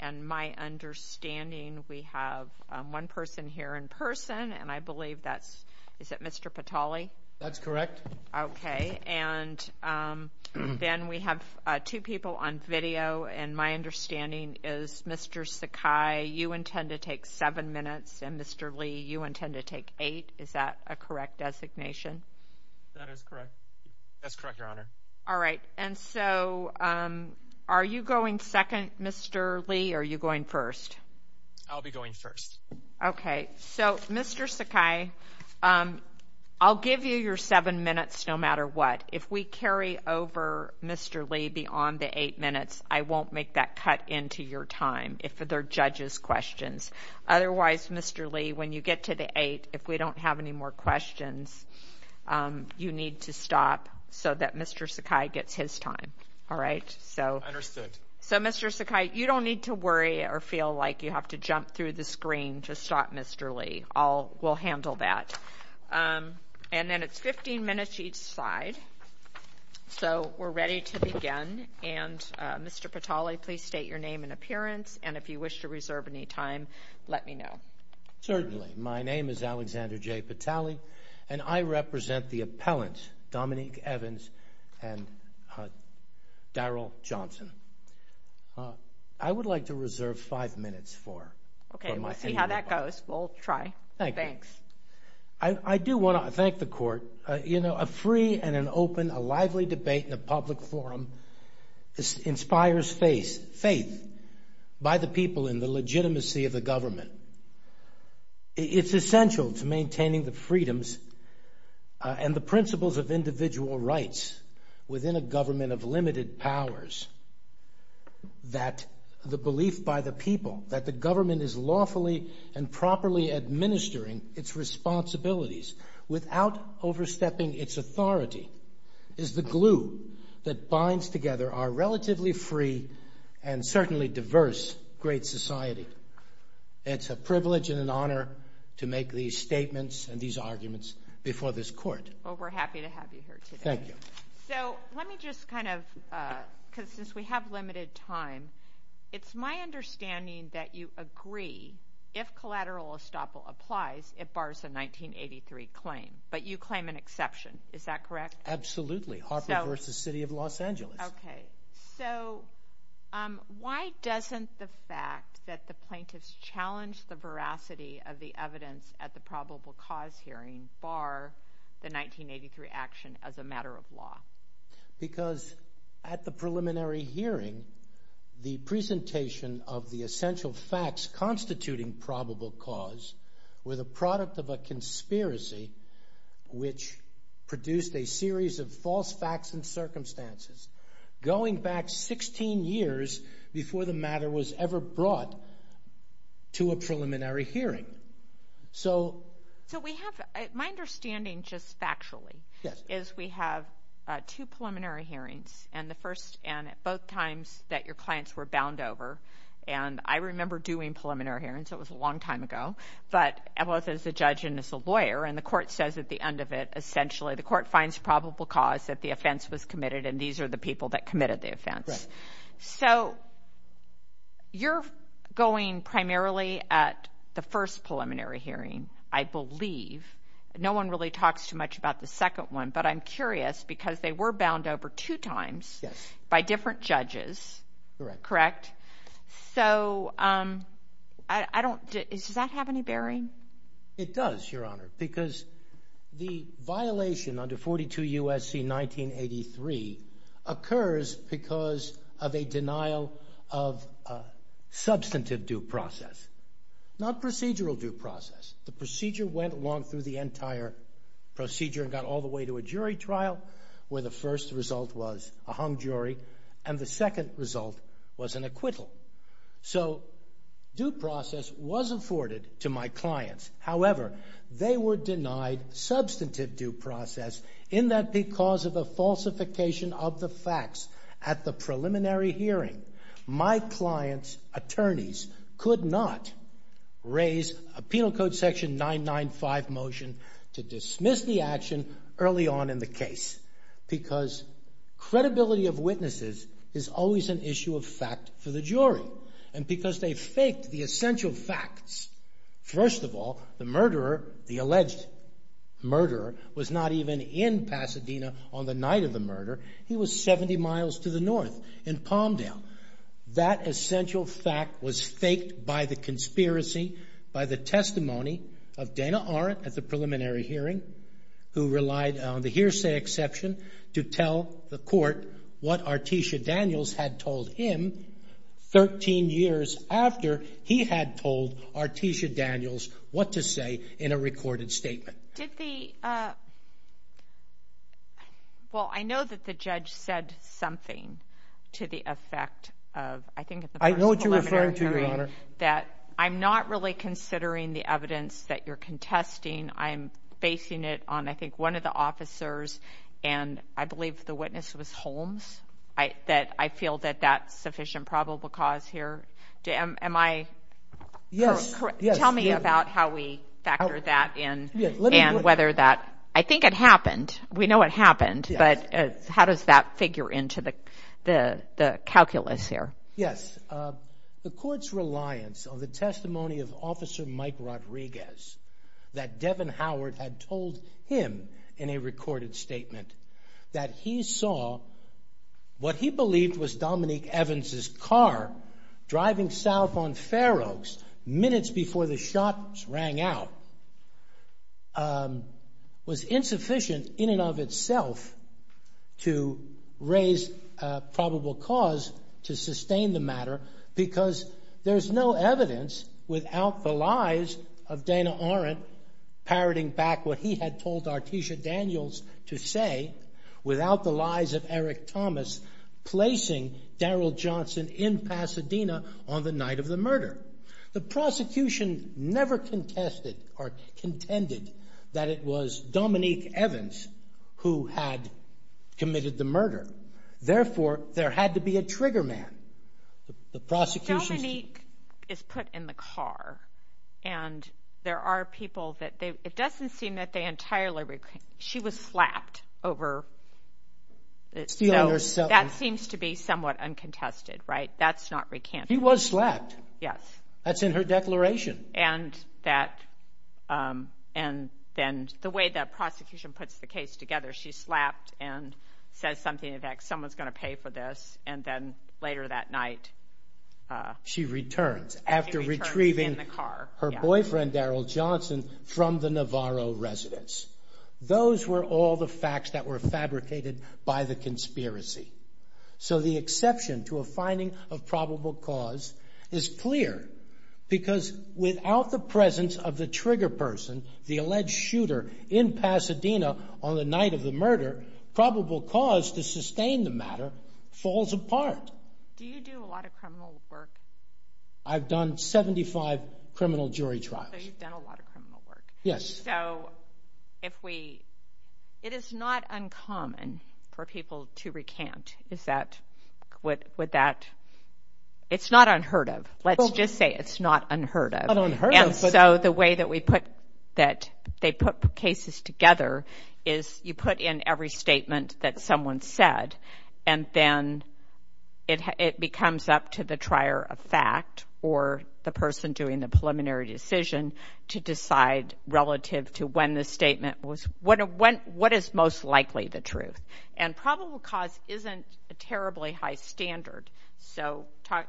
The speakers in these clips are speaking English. and my understanding we have one person here in person and I believe that's is that Mr. Patali? That's correct. Okay and then we have two people on video and my understanding is Mr. Sakai you intend to take seven minutes and Mr. Lee you intend to take eight is that a correct designation? That is correct that's correct your honor. All right and so are you going second Mr. Lee are you going first? I'll be going first. Okay so Mr. Sakai I'll give you your seven minutes no matter what if we carry over Mr. Lee beyond the eight minutes I won't make that cut into your time if they're judges questions otherwise Mr. Lee when you get to the eight if we don't have any more questions you need to stop so that Mr. Sakai gets his time all right so understood so Mr. Sakai you don't need to worry or feel like you have to jump through the screen to stop Mr. Lee all will handle that and then it's 15 minutes each side so we're ready to begin and Mr. Patali please state your name and appearance and if you wish to reserve any time let me know. Certainly my name is Alexander J Patali and I and Daryl Johnson I would like to reserve five minutes for okay let's see how that goes we'll try thanks. I do want to thank the court you know a free and an open a lively debate in a public forum this inspires faith faith by the people in the legitimacy of the government it's essential to maintaining the freedoms and the principles of individual rights within a government of limited powers that the belief by the people that the government is lawfully and properly administering its responsibilities without overstepping its authority is the glue that binds together our relatively free and certainly diverse great society it's a privilege and an honor to make these statements and these arguments before this court. Well we're happy to have you here today. Thank you. So let me just kind of because since we have limited time it's my understanding that you agree if collateral estoppel applies it bars the 1983 claim but you claim an exception is that correct? Absolutely Harper versus City of Los Angeles. Okay so why doesn't the fact that the plaintiffs challenge the veracity of the evidence at the probable cause hearing bar the 1983 action as a matter of law? Because at the preliminary hearing the presentation of the essential facts constituting probable cause were the product of a conspiracy which produced a series of false facts and circumstances going back 16 years before the matter was ever brought to a preliminary hearing. So we have my understanding just factually yes is we have two preliminary hearings and the first and at both times that your clients were bound over and I remember doing preliminary hearings it was a long time ago but I was as a judge and as a lawyer and the court says at the end of it essentially the court finds probable cause that the offense was committed and these are the people that committed the offense. So you're going primarily at the first preliminary hearing I believe no one really talks too much about the second one but I'm curious because they were bound over two times by different judges correct? So I don't is that have any bearing? It does your honor because the violation under 42 USC 1983 occurs because of a denial of substantive due process not procedural due process the procedure went along through the entire procedure got all the way to a jury trial where the first result was a hung jury and the second result was an acquittal. So due process was afforded to my clients however they were denied substantive due process in that because of the falsification of the facts at the preliminary hearing my clients attorneys could not raise a penal code section 995 motion to dismiss the action early on in the case because credibility of witnesses is always an issue of fact for the jury and because they faked the alleged murderer was not even in Pasadena on the night of the murder he was 70 miles to the north in Palmdale that essential fact was faked by the conspiracy by the testimony of Dana Arendt at the preliminary hearing who relied on the hearsay exception to tell the court what Artesia Daniels had told him 13 years after he had told Artesia Daniels what to say in a recorded statement. Well I know that the judge said something to the effect of I think that I'm not really considering the evidence that you're contesting I'm basing it on I think one of the officers and I believe the witness was Holmes I that I feel that that's sufficient probable cause here tell me about how we factored that in and whether that I think it happened we know what happened but how does that figure into the calculus here? Yes the court's reliance on the testimony of officer Mike Rodriguez that Devin Howard had told him in a recorded statement that he saw what he believed was driving south on Fair Oaks minutes before the shots rang out was insufficient in and of itself to raise probable cause to sustain the matter because there's no evidence without the lies of Dana Arendt parroting back what he had told Artesia Daniels to say without the lies of Eric Thomas placing Daryl Johnson in on the night of the murder. The prosecution never contested or contended that it was Dominique Evans who had committed the murder therefore there had to be a trigger man. Dominique is put in the car and there are people that they it doesn't seem that they entirely she was slapped over that seems to be somewhat uncontested right that's not recanted. She was slapped yes that's in her declaration and that and then the way that prosecution puts the case together she slapped and said something that someone's gonna pay for this and then later that night she returns after retrieving her boyfriend Daryl Johnson from the Navarro residence. Those were all the facts that were fabricated by the conspiracy so the exception to a finding of probable cause is clear because without the presence of the trigger person the alleged shooter in Pasadena on the night of the murder probable cause to sustain the matter falls apart. Do you do a lot of criminal work? I've done 75 criminal jury trials. So you've done a lot of criminal work. Yes. So if we it is not uncommon for people to recant is that what would that it's not unheard of let's just say it's not unheard of and so the way that we put that they put cases together is you put in every statement that someone said and then it it becomes up to the trier of fact or the person doing the preliminary decision to decide relative to when the statement was what went what is most likely the truth and probable cause isn't a terribly high standard so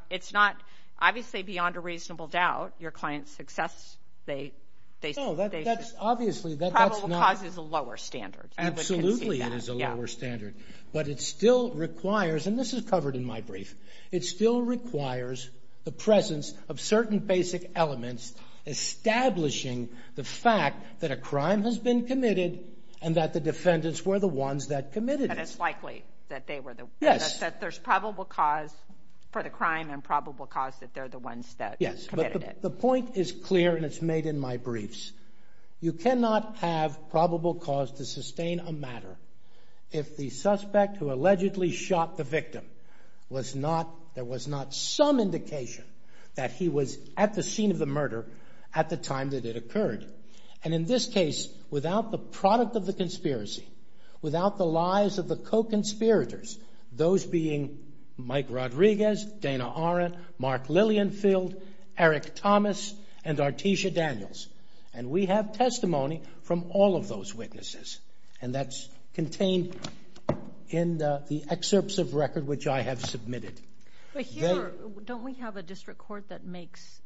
it's not obviously beyond a reasonable doubt your client's success they they know that obviously that causes a lower standard absolutely it is a lower standard but it still requires and this is covered in my brief it still requires the presence of certain basic elements establishing the fact that a crime has the ones that committed it's likely that they were the yes that there's probable cause for the crime and probable cause that they're the ones that yes the point is clear and it's made in my briefs you cannot have probable cause to sustain a matter if the suspect who allegedly shot the victim was not there was not some indication that he was at the scene of the murder at the time that it occurred and in this case without the product of the conspiracy without the lives of the co-conspirators those being Mike Rodriguez, Dana Arendt, Mark Lillienfield, Eric Thomas and Artesia Daniels and we have testimony from all of those witnesses and that's contained in the excerpts of record which I have submitted. Don't we have a district court that makes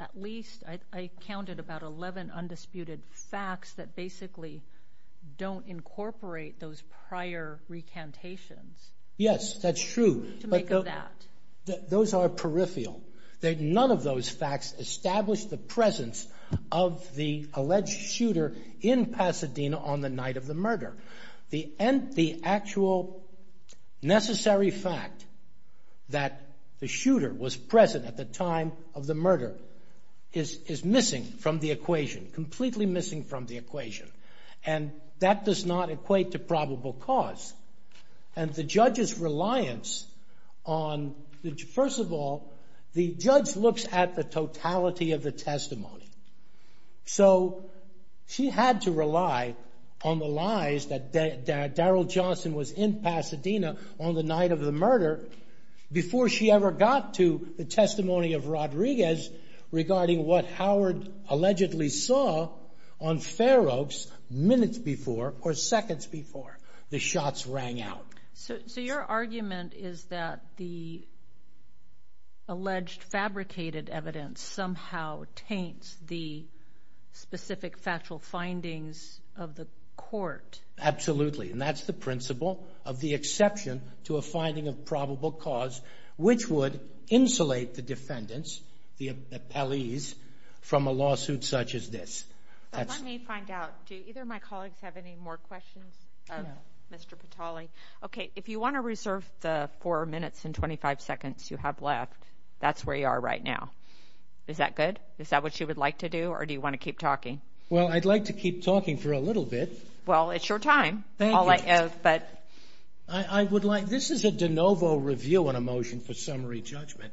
at least I counted about 11 undisputed facts that basically don't incorporate those prior recantations? Yes that's true but those are peripheral that none of those facts establish the presence of the alleged shooter in Pasadena on the night of the murder. The end the actual necessary fact that the shooter was present at the time of the murder is is missing from the equation and that does not equate to probable cause and the judge's reliance on the first of all the judge looks at the totality of the testimony so she had to rely on the lies that Daryl Johnson was in Pasadena on the night of the murder before she ever got to the testimony of Rodriguez regarding what minutes before or seconds before the shots rang out. So your argument is that the alleged fabricated evidence somehow taints the specific factual findings of the court? Absolutely and that's the principle of the exception to a finding of probable cause which would insulate the defendants, the appellees, from a Do either of my colleagues have any more questions of Mr. Patali? Okay if you want to reserve the four minutes and 25 seconds you have left that's where you are right now. Is that good? Is that what you would like to do or do you want to keep talking? Well I'd like to keep talking for a little bit. Well it's your time. Thank you. I would like this is a de novo review on a motion for summary judgment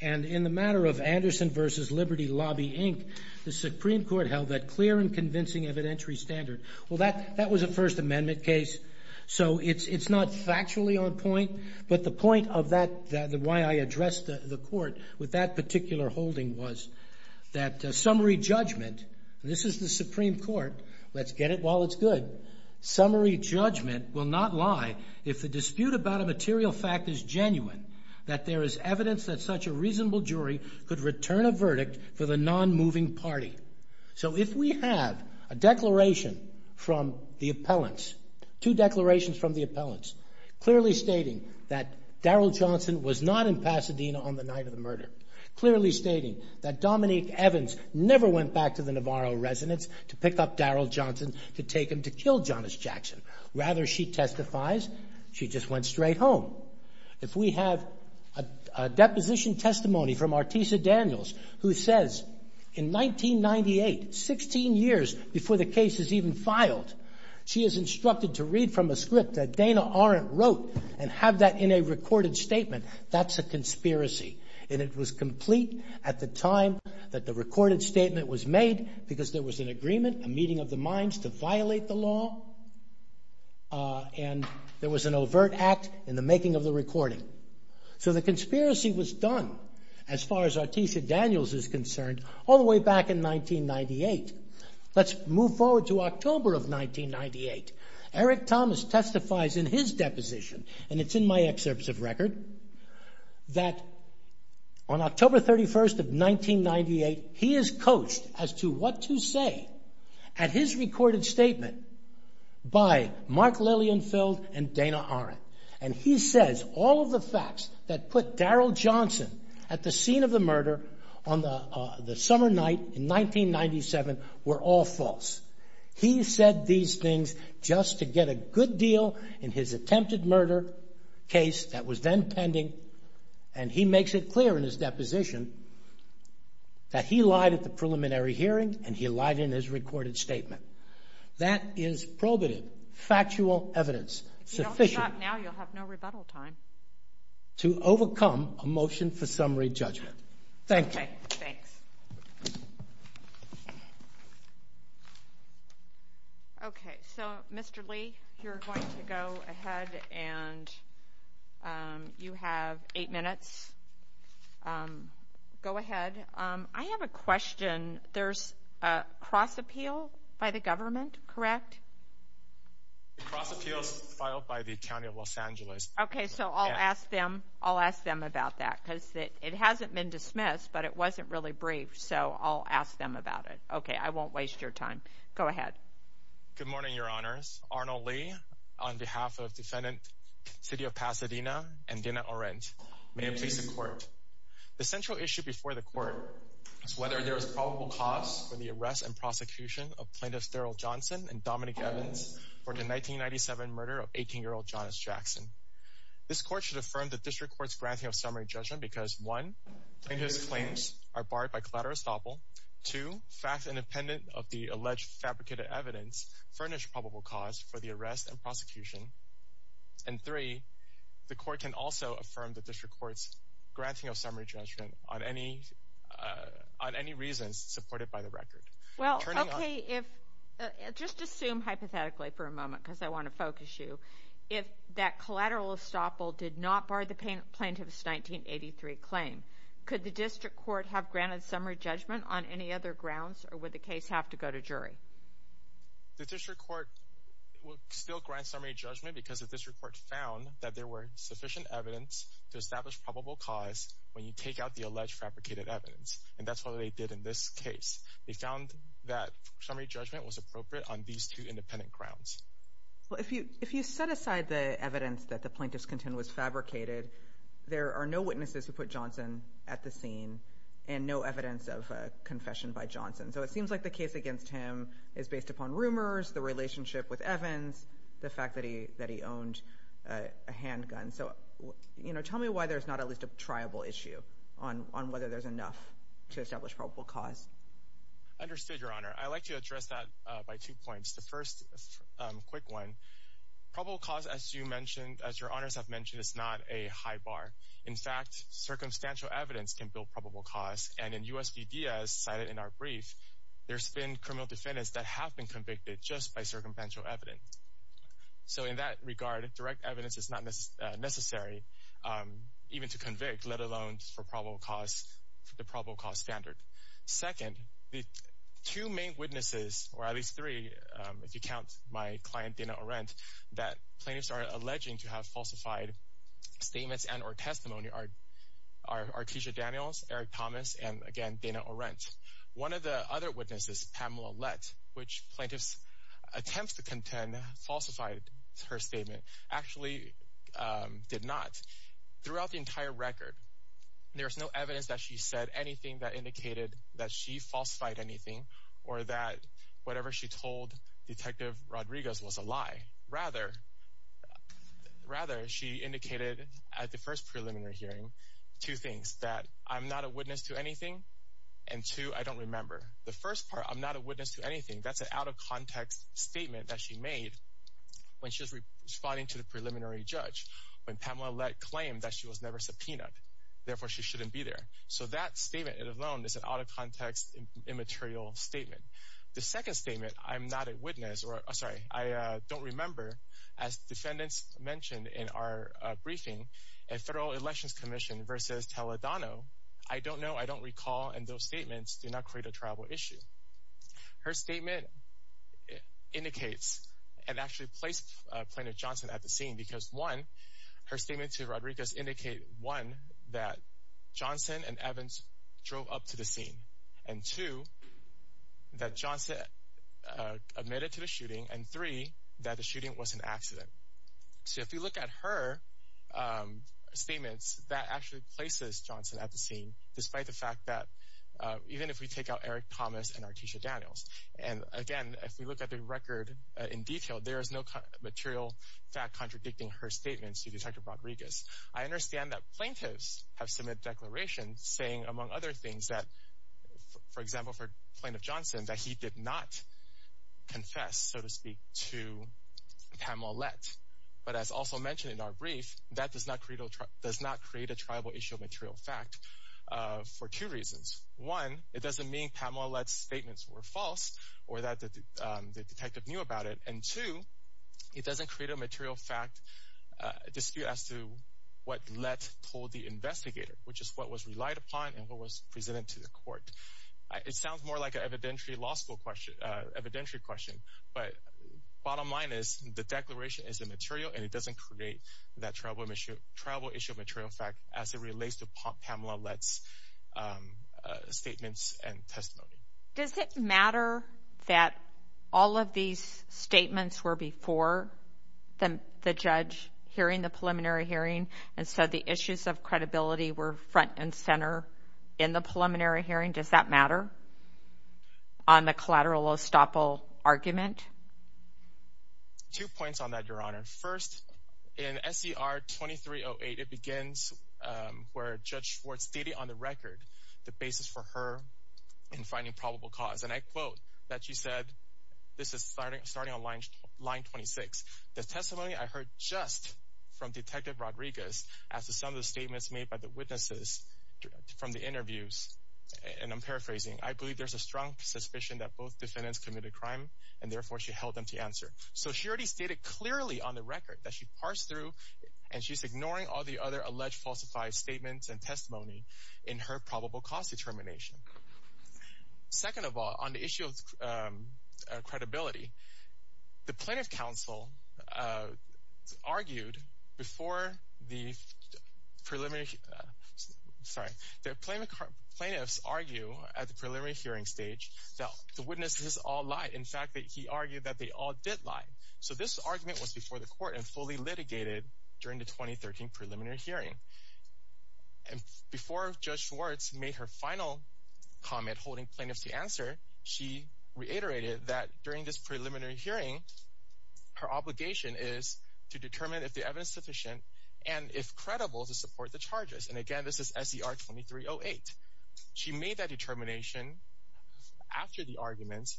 and in the matter of Anderson versus Liberty Lobby Inc. the Supreme Court held that clear and convincing evidentiary standard. Well that that was a First Amendment case so it's it's not factually on point but the point of that the why I addressed the court with that particular holding was that summary judgment this is the Supreme Court let's get it while it's good summary judgment will not lie if the dispute about a material fact is genuine that there is evidence that such a reasonable jury could return a verdict for the non-moving party so if we have a declaration from the appellants two declarations from the appellants clearly stating that Daryl Johnson was not in Pasadena on the night of the murder clearly stating that Dominique Evans never went back to the Navarro residence to pick up Daryl Johnson to take him to kill Jonas Jackson rather she testifies she just went straight home if we have a deposition testimony from Artisa Daniels who says in 1998 16 years before the case is even filed she is instructed to read from a script that Dana Arendt wrote and have that in a recorded statement that's a conspiracy and it was complete at the time that the recorded statement was made because there was an agreement a meeting of the minds to violate the law and there was an overt act in the making of the so the conspiracy was done as far as Artisa Daniels is concerned all the way back in 1998 let's move forward to October of 1998 Eric Thomas testifies in his deposition and it's in my excerpts of record that on October 31st of 1998 he is coached as to what to say at his recorded statement by Mark Lillienfield and Dana Arendt and he says all of the facts that put Daryl Johnson at the scene of the murder on the summer night in 1997 were all false he said these things just to get a good deal in his attempted murder case that was then pending and he makes it clear in his deposition that he lied at the preliminary hearing and he lied in his recorded statement that is probative factual evidence sufficient now you'll have no rebuttal time to overcome a motion for summary judgment. Thank you. Okay. So Mr. Lee, you're going to go ahead and you have eight minutes. Go ahead. I have a question. There's a cross appeal by the government. Correct. Cross appeals filed by the county of Los Angeles. Okay. So I'll ask them. I'll ask them about that because it hasn't been dismissed, but it wasn't really brief. So I'll ask them about it. Okay. I won't waste your time. Go ahead. Good morning. Your honors Arnold Lee on behalf of defendant City of Pasadena and Dana Arendt. May I please support the central issue before the court is whether there is probable cause for the arrest and prosecution of for the 1997 murder of 18 year old Jonas Jackson. This court should affirm the district court's granting of summary judgment because one and his claims are barred by collateral estoppel to fact independent of the alleged fabricated evidence furnished probable cause for the arrest and prosecution. And three, the court can also affirm that this records granting of summary judgment on any on any reasons supported by the record. Well, okay, if just assume hypothetically for a moment because I want to focus you if that collateral estoppel did not bar the plaintiff's 1983 claim, could the district court have granted summary judgment on any other grounds or would the case have to go to jury? The district court will still grant summary judgment because of this report found that there were sufficient evidence to establish probable cause when you take out the alleged fabricated evidence. And that's what they did in this case. They found that summary judgment was appropriate on these two independent grounds. Well, if you if you set aside the evidence that the plaintiff's content was fabricated, there are no witnesses who put johnson at the scene and no evidence of confession by johnson. So it seems like the case against him is based upon rumors, the relationship with Evans, the fact that he that he owned a handgun. So, you know, tell me why there's not at least a tribal issue on on whether there's enough to establish probable cause. I understood your honor. I like to address that by two points. The first quick one, probable cause, as you mentioned, as your honors have mentioned, is not a high bar. In fact, circumstantial evidence can build probable cause. And in U. S. P. D. S. Cited in our brief, there's been criminal defendants that have been convicted just by circumstantial evidence. So in that regard, direct evidence is not necessary, um, even to convict, let alone for probable cause, the probable cause standard. Second, the two main witnesses, or at least three. If you count my client dinner or rent that plaintiffs are alleging to have falsified statements and or testimony are our teacher Daniels, Eric Thomas and again, Dana or rent. One of the other witnesses, Pamela Lett, which plaintiffs attempts to contend falsified her statement actually did not throughout the entire record. There's no evidence that she said anything that indicated that she falsified anything or that whatever she told Detective Rodriguez was a lie. Rather, rather, she indicated at the first preliminary hearing two things that I'm not a witness to anything. And two, I don't remember the first part. I'm not a witness to anything. That's an out of context statement that she made when she was responding to the preliminary judge when Pamela Lett claimed that she was never subpoenaed. Therefore, she shouldn't be there. So that statement alone is an out of context, immaterial statement. The second statement. I'm not a witness or sorry. I don't remember, as defendants mentioned in our briefing and Federal Elections Commission versus Teledano. I don't know. I don't recall. And those statements do not create a travel issue. Her statement indicates and actually placed Plaintiff Johnson at the scene because one her statement to Rodriguez indicate one that Johnson and Evans drove up to the scene and two that Johnson admitted to the shooting and three that the shooting was an accident. So if you look at her statements that actually places Johnson at the scene, despite the fact that even if we take out Eric Thomas and Artesia Daniels and again, if we look at the record in detail, there is no material fact contradicting her statements to Detective Rodriguez. I understand that plaintiffs have similar declarations saying, among other things that, for example, for Plaintiff Johnson that he did not confess, so to speak, to Pamela Lett. But as also mentioned in our brief, that does not create a tribal issue of material fact for two reasons. One, it doesn't mean Pamela Lett's statements were false or that the detective knew about it. And two, it doesn't create a material fact dispute as to what Lett told the investigator, which is what was relied upon and what was presented to the court. It sounds more like an evidentiary law school question, evidentiary question, but bottom line is the declaration is a material and it doesn't create that tribal issue of material fact as it statements and testimony. Does it matter that all of these statements were before the judge hearing the preliminary hearing? And so the issues of credibility were front and center in the preliminary hearing. Does that matter on the collateral estoppel argument? Two points on that, Your Honor. First, in SCR 2308, it begins where Judge Ford stated on the record the basis for her in finding probable cause. And I quote that she said, this is starting starting on line 26. The testimony I heard just from Detective Rodriguez as to some of the statements made by the witnesses from the interviews, and I'm paraphrasing, I believe there's a strong suspicion that both defendants committed crime and therefore she held them to answer. So she already stated clearly on the record that she parsed through and she's ignoring all the other alleged falsified statements and testimony in her probable cause determination. Second of all, on the issue of credibility, the Plaintiff Council argued before the preliminary, sorry, the plaintiff's argue at the preliminary hearing stage that the witnesses all lied. In fact, that he argued that they all did lie. So this argument was before the court and fully litigated during the 2013 preliminary hearing. And before Judge Schwartz made her final comment holding plaintiffs to answer, she reiterated that during this preliminary hearing, her obligation is to determine if the evidence sufficient and if credible to support the charges. And again, this is SCR 2308. She made that determination after the arguments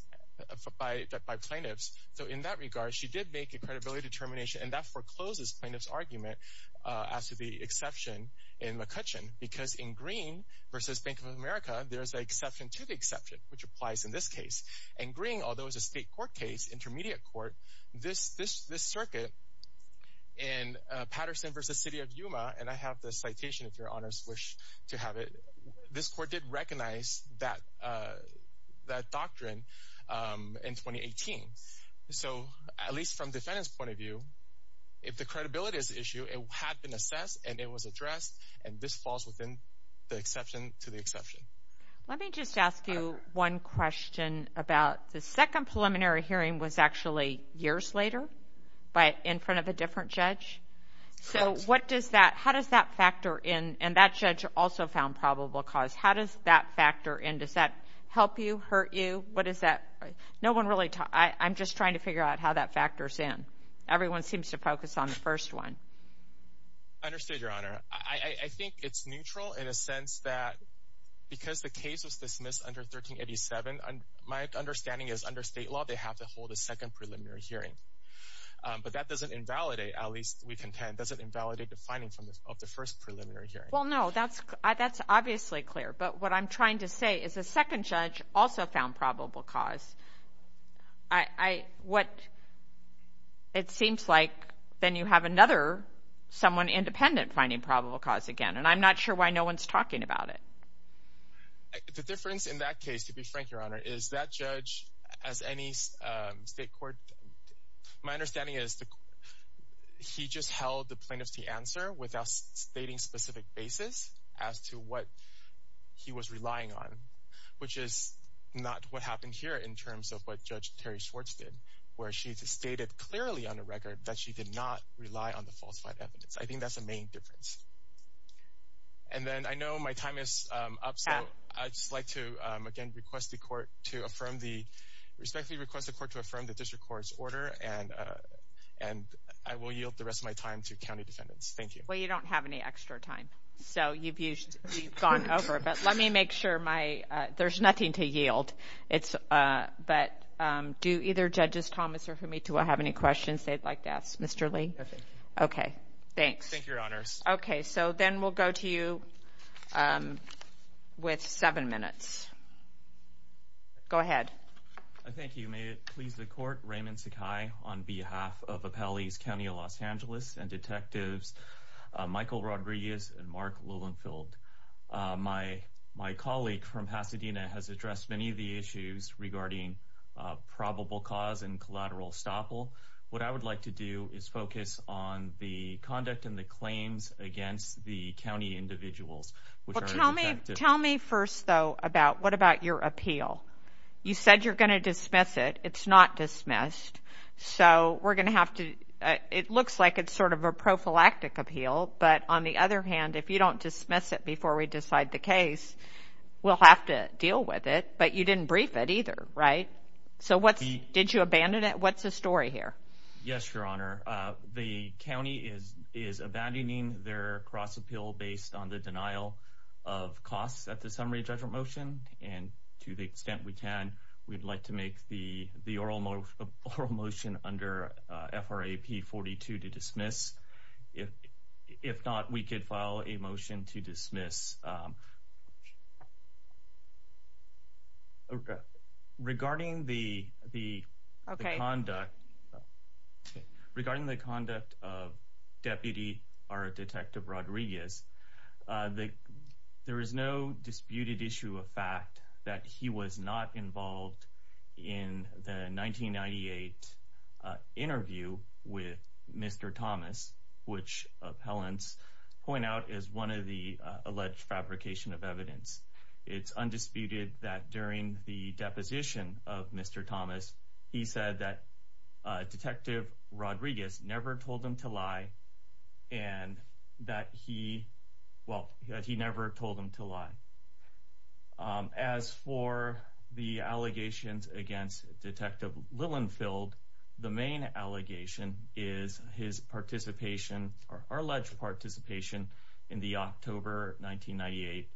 by plaintiffs. So in that regard, she did make a credibility determination and that forecloses plaintiff's argument as to the exception in McCutcheon because in Green versus Bank of America, there's an exception to the exception, which applies in this case. In Green, although it's a state court case, intermediate court, this circuit in Patterson versus City of Yuma, and I have the citation if your honors wish to have it, this court did recognize that doctrine in if the credibility is an issue, it had been assessed and it was addressed. And this falls within the exception to the exception. Let me just ask you one question about the second preliminary hearing was actually years later, but in front of a different judge. So what does that how does that factor in? And that judge also found probable cause. How does that factor in? Does that help you hurt you? What is that? No one really. I'm just trying to figure out how that seems to focus on the first one. Understood, Your Honor. I think it's neutral in a sense that because the case was dismissed under 13 87, my understanding is under state law, they have to hold a second preliminary hearing. But that doesn't invalidate. At least we contend doesn't invalidate the finding from the first preliminary hearing. Well, no, that's that's obviously clear. But what I'm trying to then you have another someone independent, finding probable cause again, and I'm not sure why no one's talking about it. The difference in that case, to be frank, Your Honor, is that judge as any state court. My understanding is he just held the plaintiff's answer without stating specific basis as to what he was relying on, which is not what happened here in terms of what Judge Terry Schwartz did, where she stated clearly on the record that she did not rely on the falsified evidence. I think that's the main difference. And then I know my time is up. So I just like to again request the court to affirm the respectfully request the court to affirm the district court's order. And and I will yield the rest of my time to county defendants. Thank you. Well, you don't have any extra time. So you've used gone over. But let me make sure my there's nothing to yield. It's but do either judges Thomas or for me to have any questions they'd like to ask Mr Lee. Okay, thanks. Thank you, Your Honors. Okay, so then we'll go to you, um, with seven minutes. Go ahead. Thank you. May it please the court. Raymond Sakai on behalf of Appellee's County of Los Angeles and detectives Michael Rodriguez and Mark Lillenfield. My my colleague from Pasadena has addressed many of the What I would like to do is focus on the conduct in the claims against the county individuals. Tell me. Tell me first, though, about what about your appeal? You said you're gonna dismiss it. It's not dismissed. So we're gonna have to. It looks like it's sort of a prophylactic appeal. But on the other hand, if you don't dismiss it before we decide the case, we'll have to deal with it. But you didn't brief it either, right? So what did you abandon it? What's the story here? Yes, Your Honor. The county is is abandoning their cross appeal based on the denial of costs at the summary judgment motion. And to the extent we can, we'd like to make the the oral motion under F. R. A. P. 42 to dismiss. If if not, we could file a motion to dismiss. Um, okay, regarding the the conduct regarding the conduct of Deputy are Detective Rodriguez. Uh, there is no disputed issue of fact that he was not involved in the 1998 interview with Mr Thomas, which appellants point out is one of the alleged fabrication of evidence. It's undisputed that during the deposition of Mr Thomas, he said that Detective Rodriguez never told him to lie and that he well, he never told him to lie. Um, as for the allegations against Detective Lillenfield, the main allegation is his participation or alleged participation in the October 1998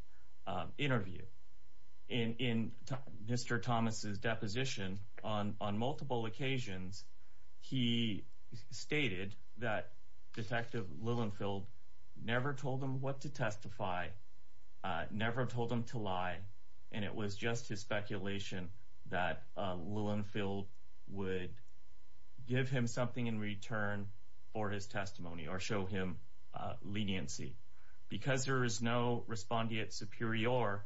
interview in Mr Thomas's deposition. On on multiple occasions, he stated that Detective Lillenfield never told him what to testify, never told him to lie. And it was just his speculation that Lillenfield would give him something in return for his testimony or show him leniency. Because there is no respondeat superior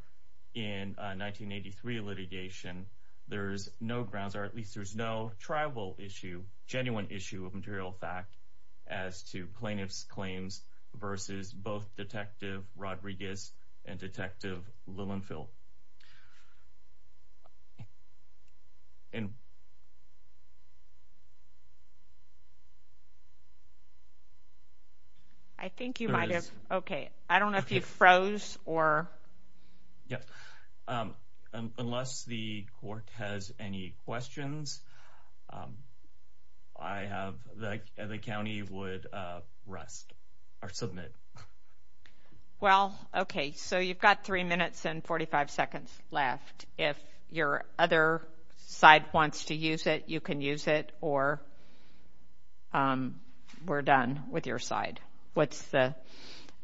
in 1983 litigation, there's no grounds, or at least there's no tribal issue, genuine issue of material fact as to plaintiff's claims versus both Detective Rodriguez and Detective Lillenfield. And I think you might have. Okay. I don't know if you froze or unless the court has any questions. Um, I have the county would rest or submit. Well, okay. So you've got three minutes and 45 seconds left. If your other side wants to use it, you can use it. Or, um, we're done with your side. What's the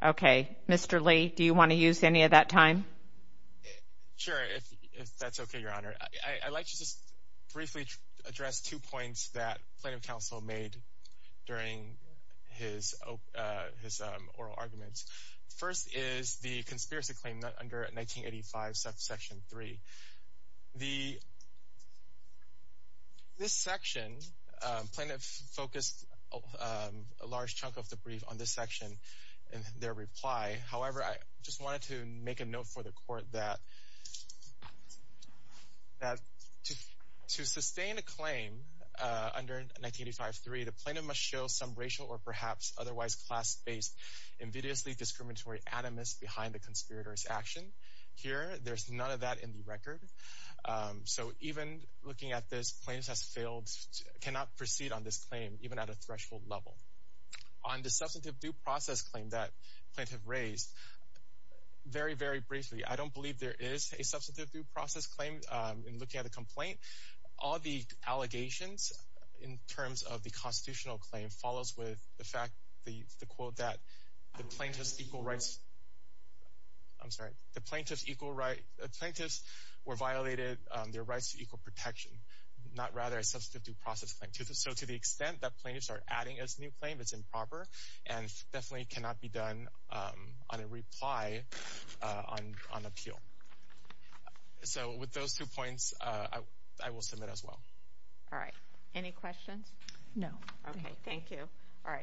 Okay, Mr Lee, do you want to use any of that time? Sure. If that's okay, Your Honor, I'd like to just briefly address two points that Plaintiff counsel made during his his oral arguments. First is the this section plaintiff focused a large chunk of the brief on this section and their reply. However, I just wanted to make a note for the court that that to sustain a claim under 1985 3, the plaintiff must show some racial or perhaps otherwise class based, invidiously discriminatory animus behind the conspirators action. Here, there's none of that in the record. So even looking at this plaintiffs has failed, cannot proceed on this claim even at a threshold level on the substantive due process claim that plaintiff raised very, very briefly. I don't believe there is a substantive due process claim in looking at the complaint. All the allegations in terms of the constitutional claim follows with the fact the quote that the plaintiffs equal rights. I'm sorry. The plaintiffs equal right plaintiffs were violated their rights to equal protection, not rather a substantive due process. So to the extent that plaintiffs are adding as new claim, it's improper and definitely cannot be done on a reply on on appeal. So with those two points, I will submit as well. All right. Any questions? No. Yeah. All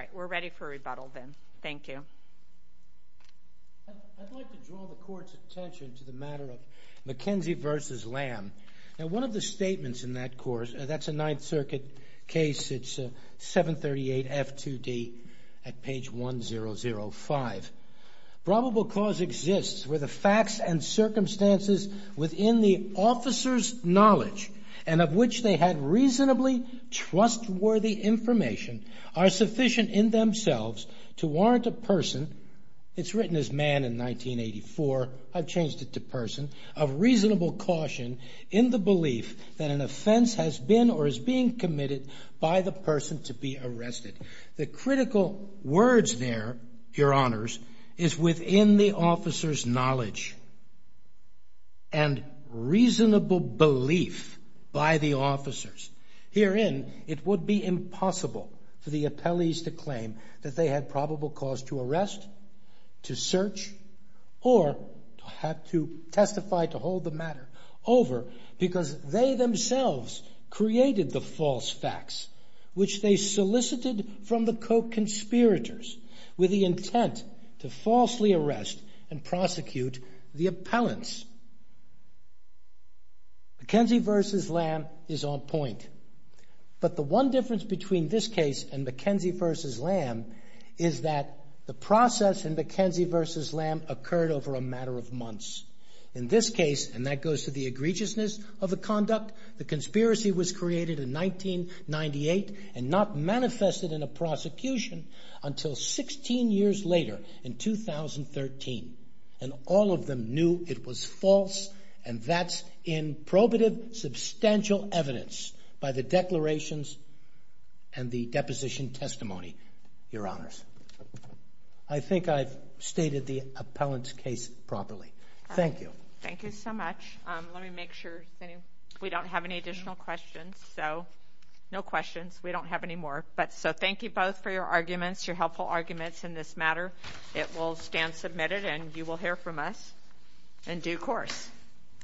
right. We're ready for rebuttal. Then. Thank you. I'd like to draw the court's attention to the matter of McKenzie versus land. Now, one of the statements in that course, that's a Ninth Circuit case. It's 738 F2D at page 1005. Probable cause exists where the facts and circumstances within the officer's knowledge and of which they had reasonably trustworthy information are sufficient in themselves to warrant a person. It's written as man in 1984. I've changed it to person of reasonable caution in the belief that an offense has been or is being committed by the person to be arrested. The critical words there, your honors, is within the officer's knowledge and reasonable belief by the officers. Herein, it would be impossible for the appellees to claim that they had probable cause to over because they themselves created the false facts, which they solicited from the Koch conspirators with the intent to falsely arrest and prosecute the appellants. McKenzie versus lamb is on point, but the one difference between this case and McKenzie versus lamb is that the process and McKenzie versus lamb occurred over a matter of months. In this case, and that goes to the egregiousness of the conduct, the conspiracy was created in 1998 and not manifested in a prosecution until 16 years later in 2013 and all of them knew it was false and that's in probative substantial evidence by the declarations and the deposition testimony, your honors. I think I've stated the appellant's case properly. Thank you. Thank you so much. Let me make sure we don't have any additional questions. So no questions. We don't have any more. But so thank you both for your arguments, your helpful arguments in this matter. It will stand submitted and you will hear from us in due course.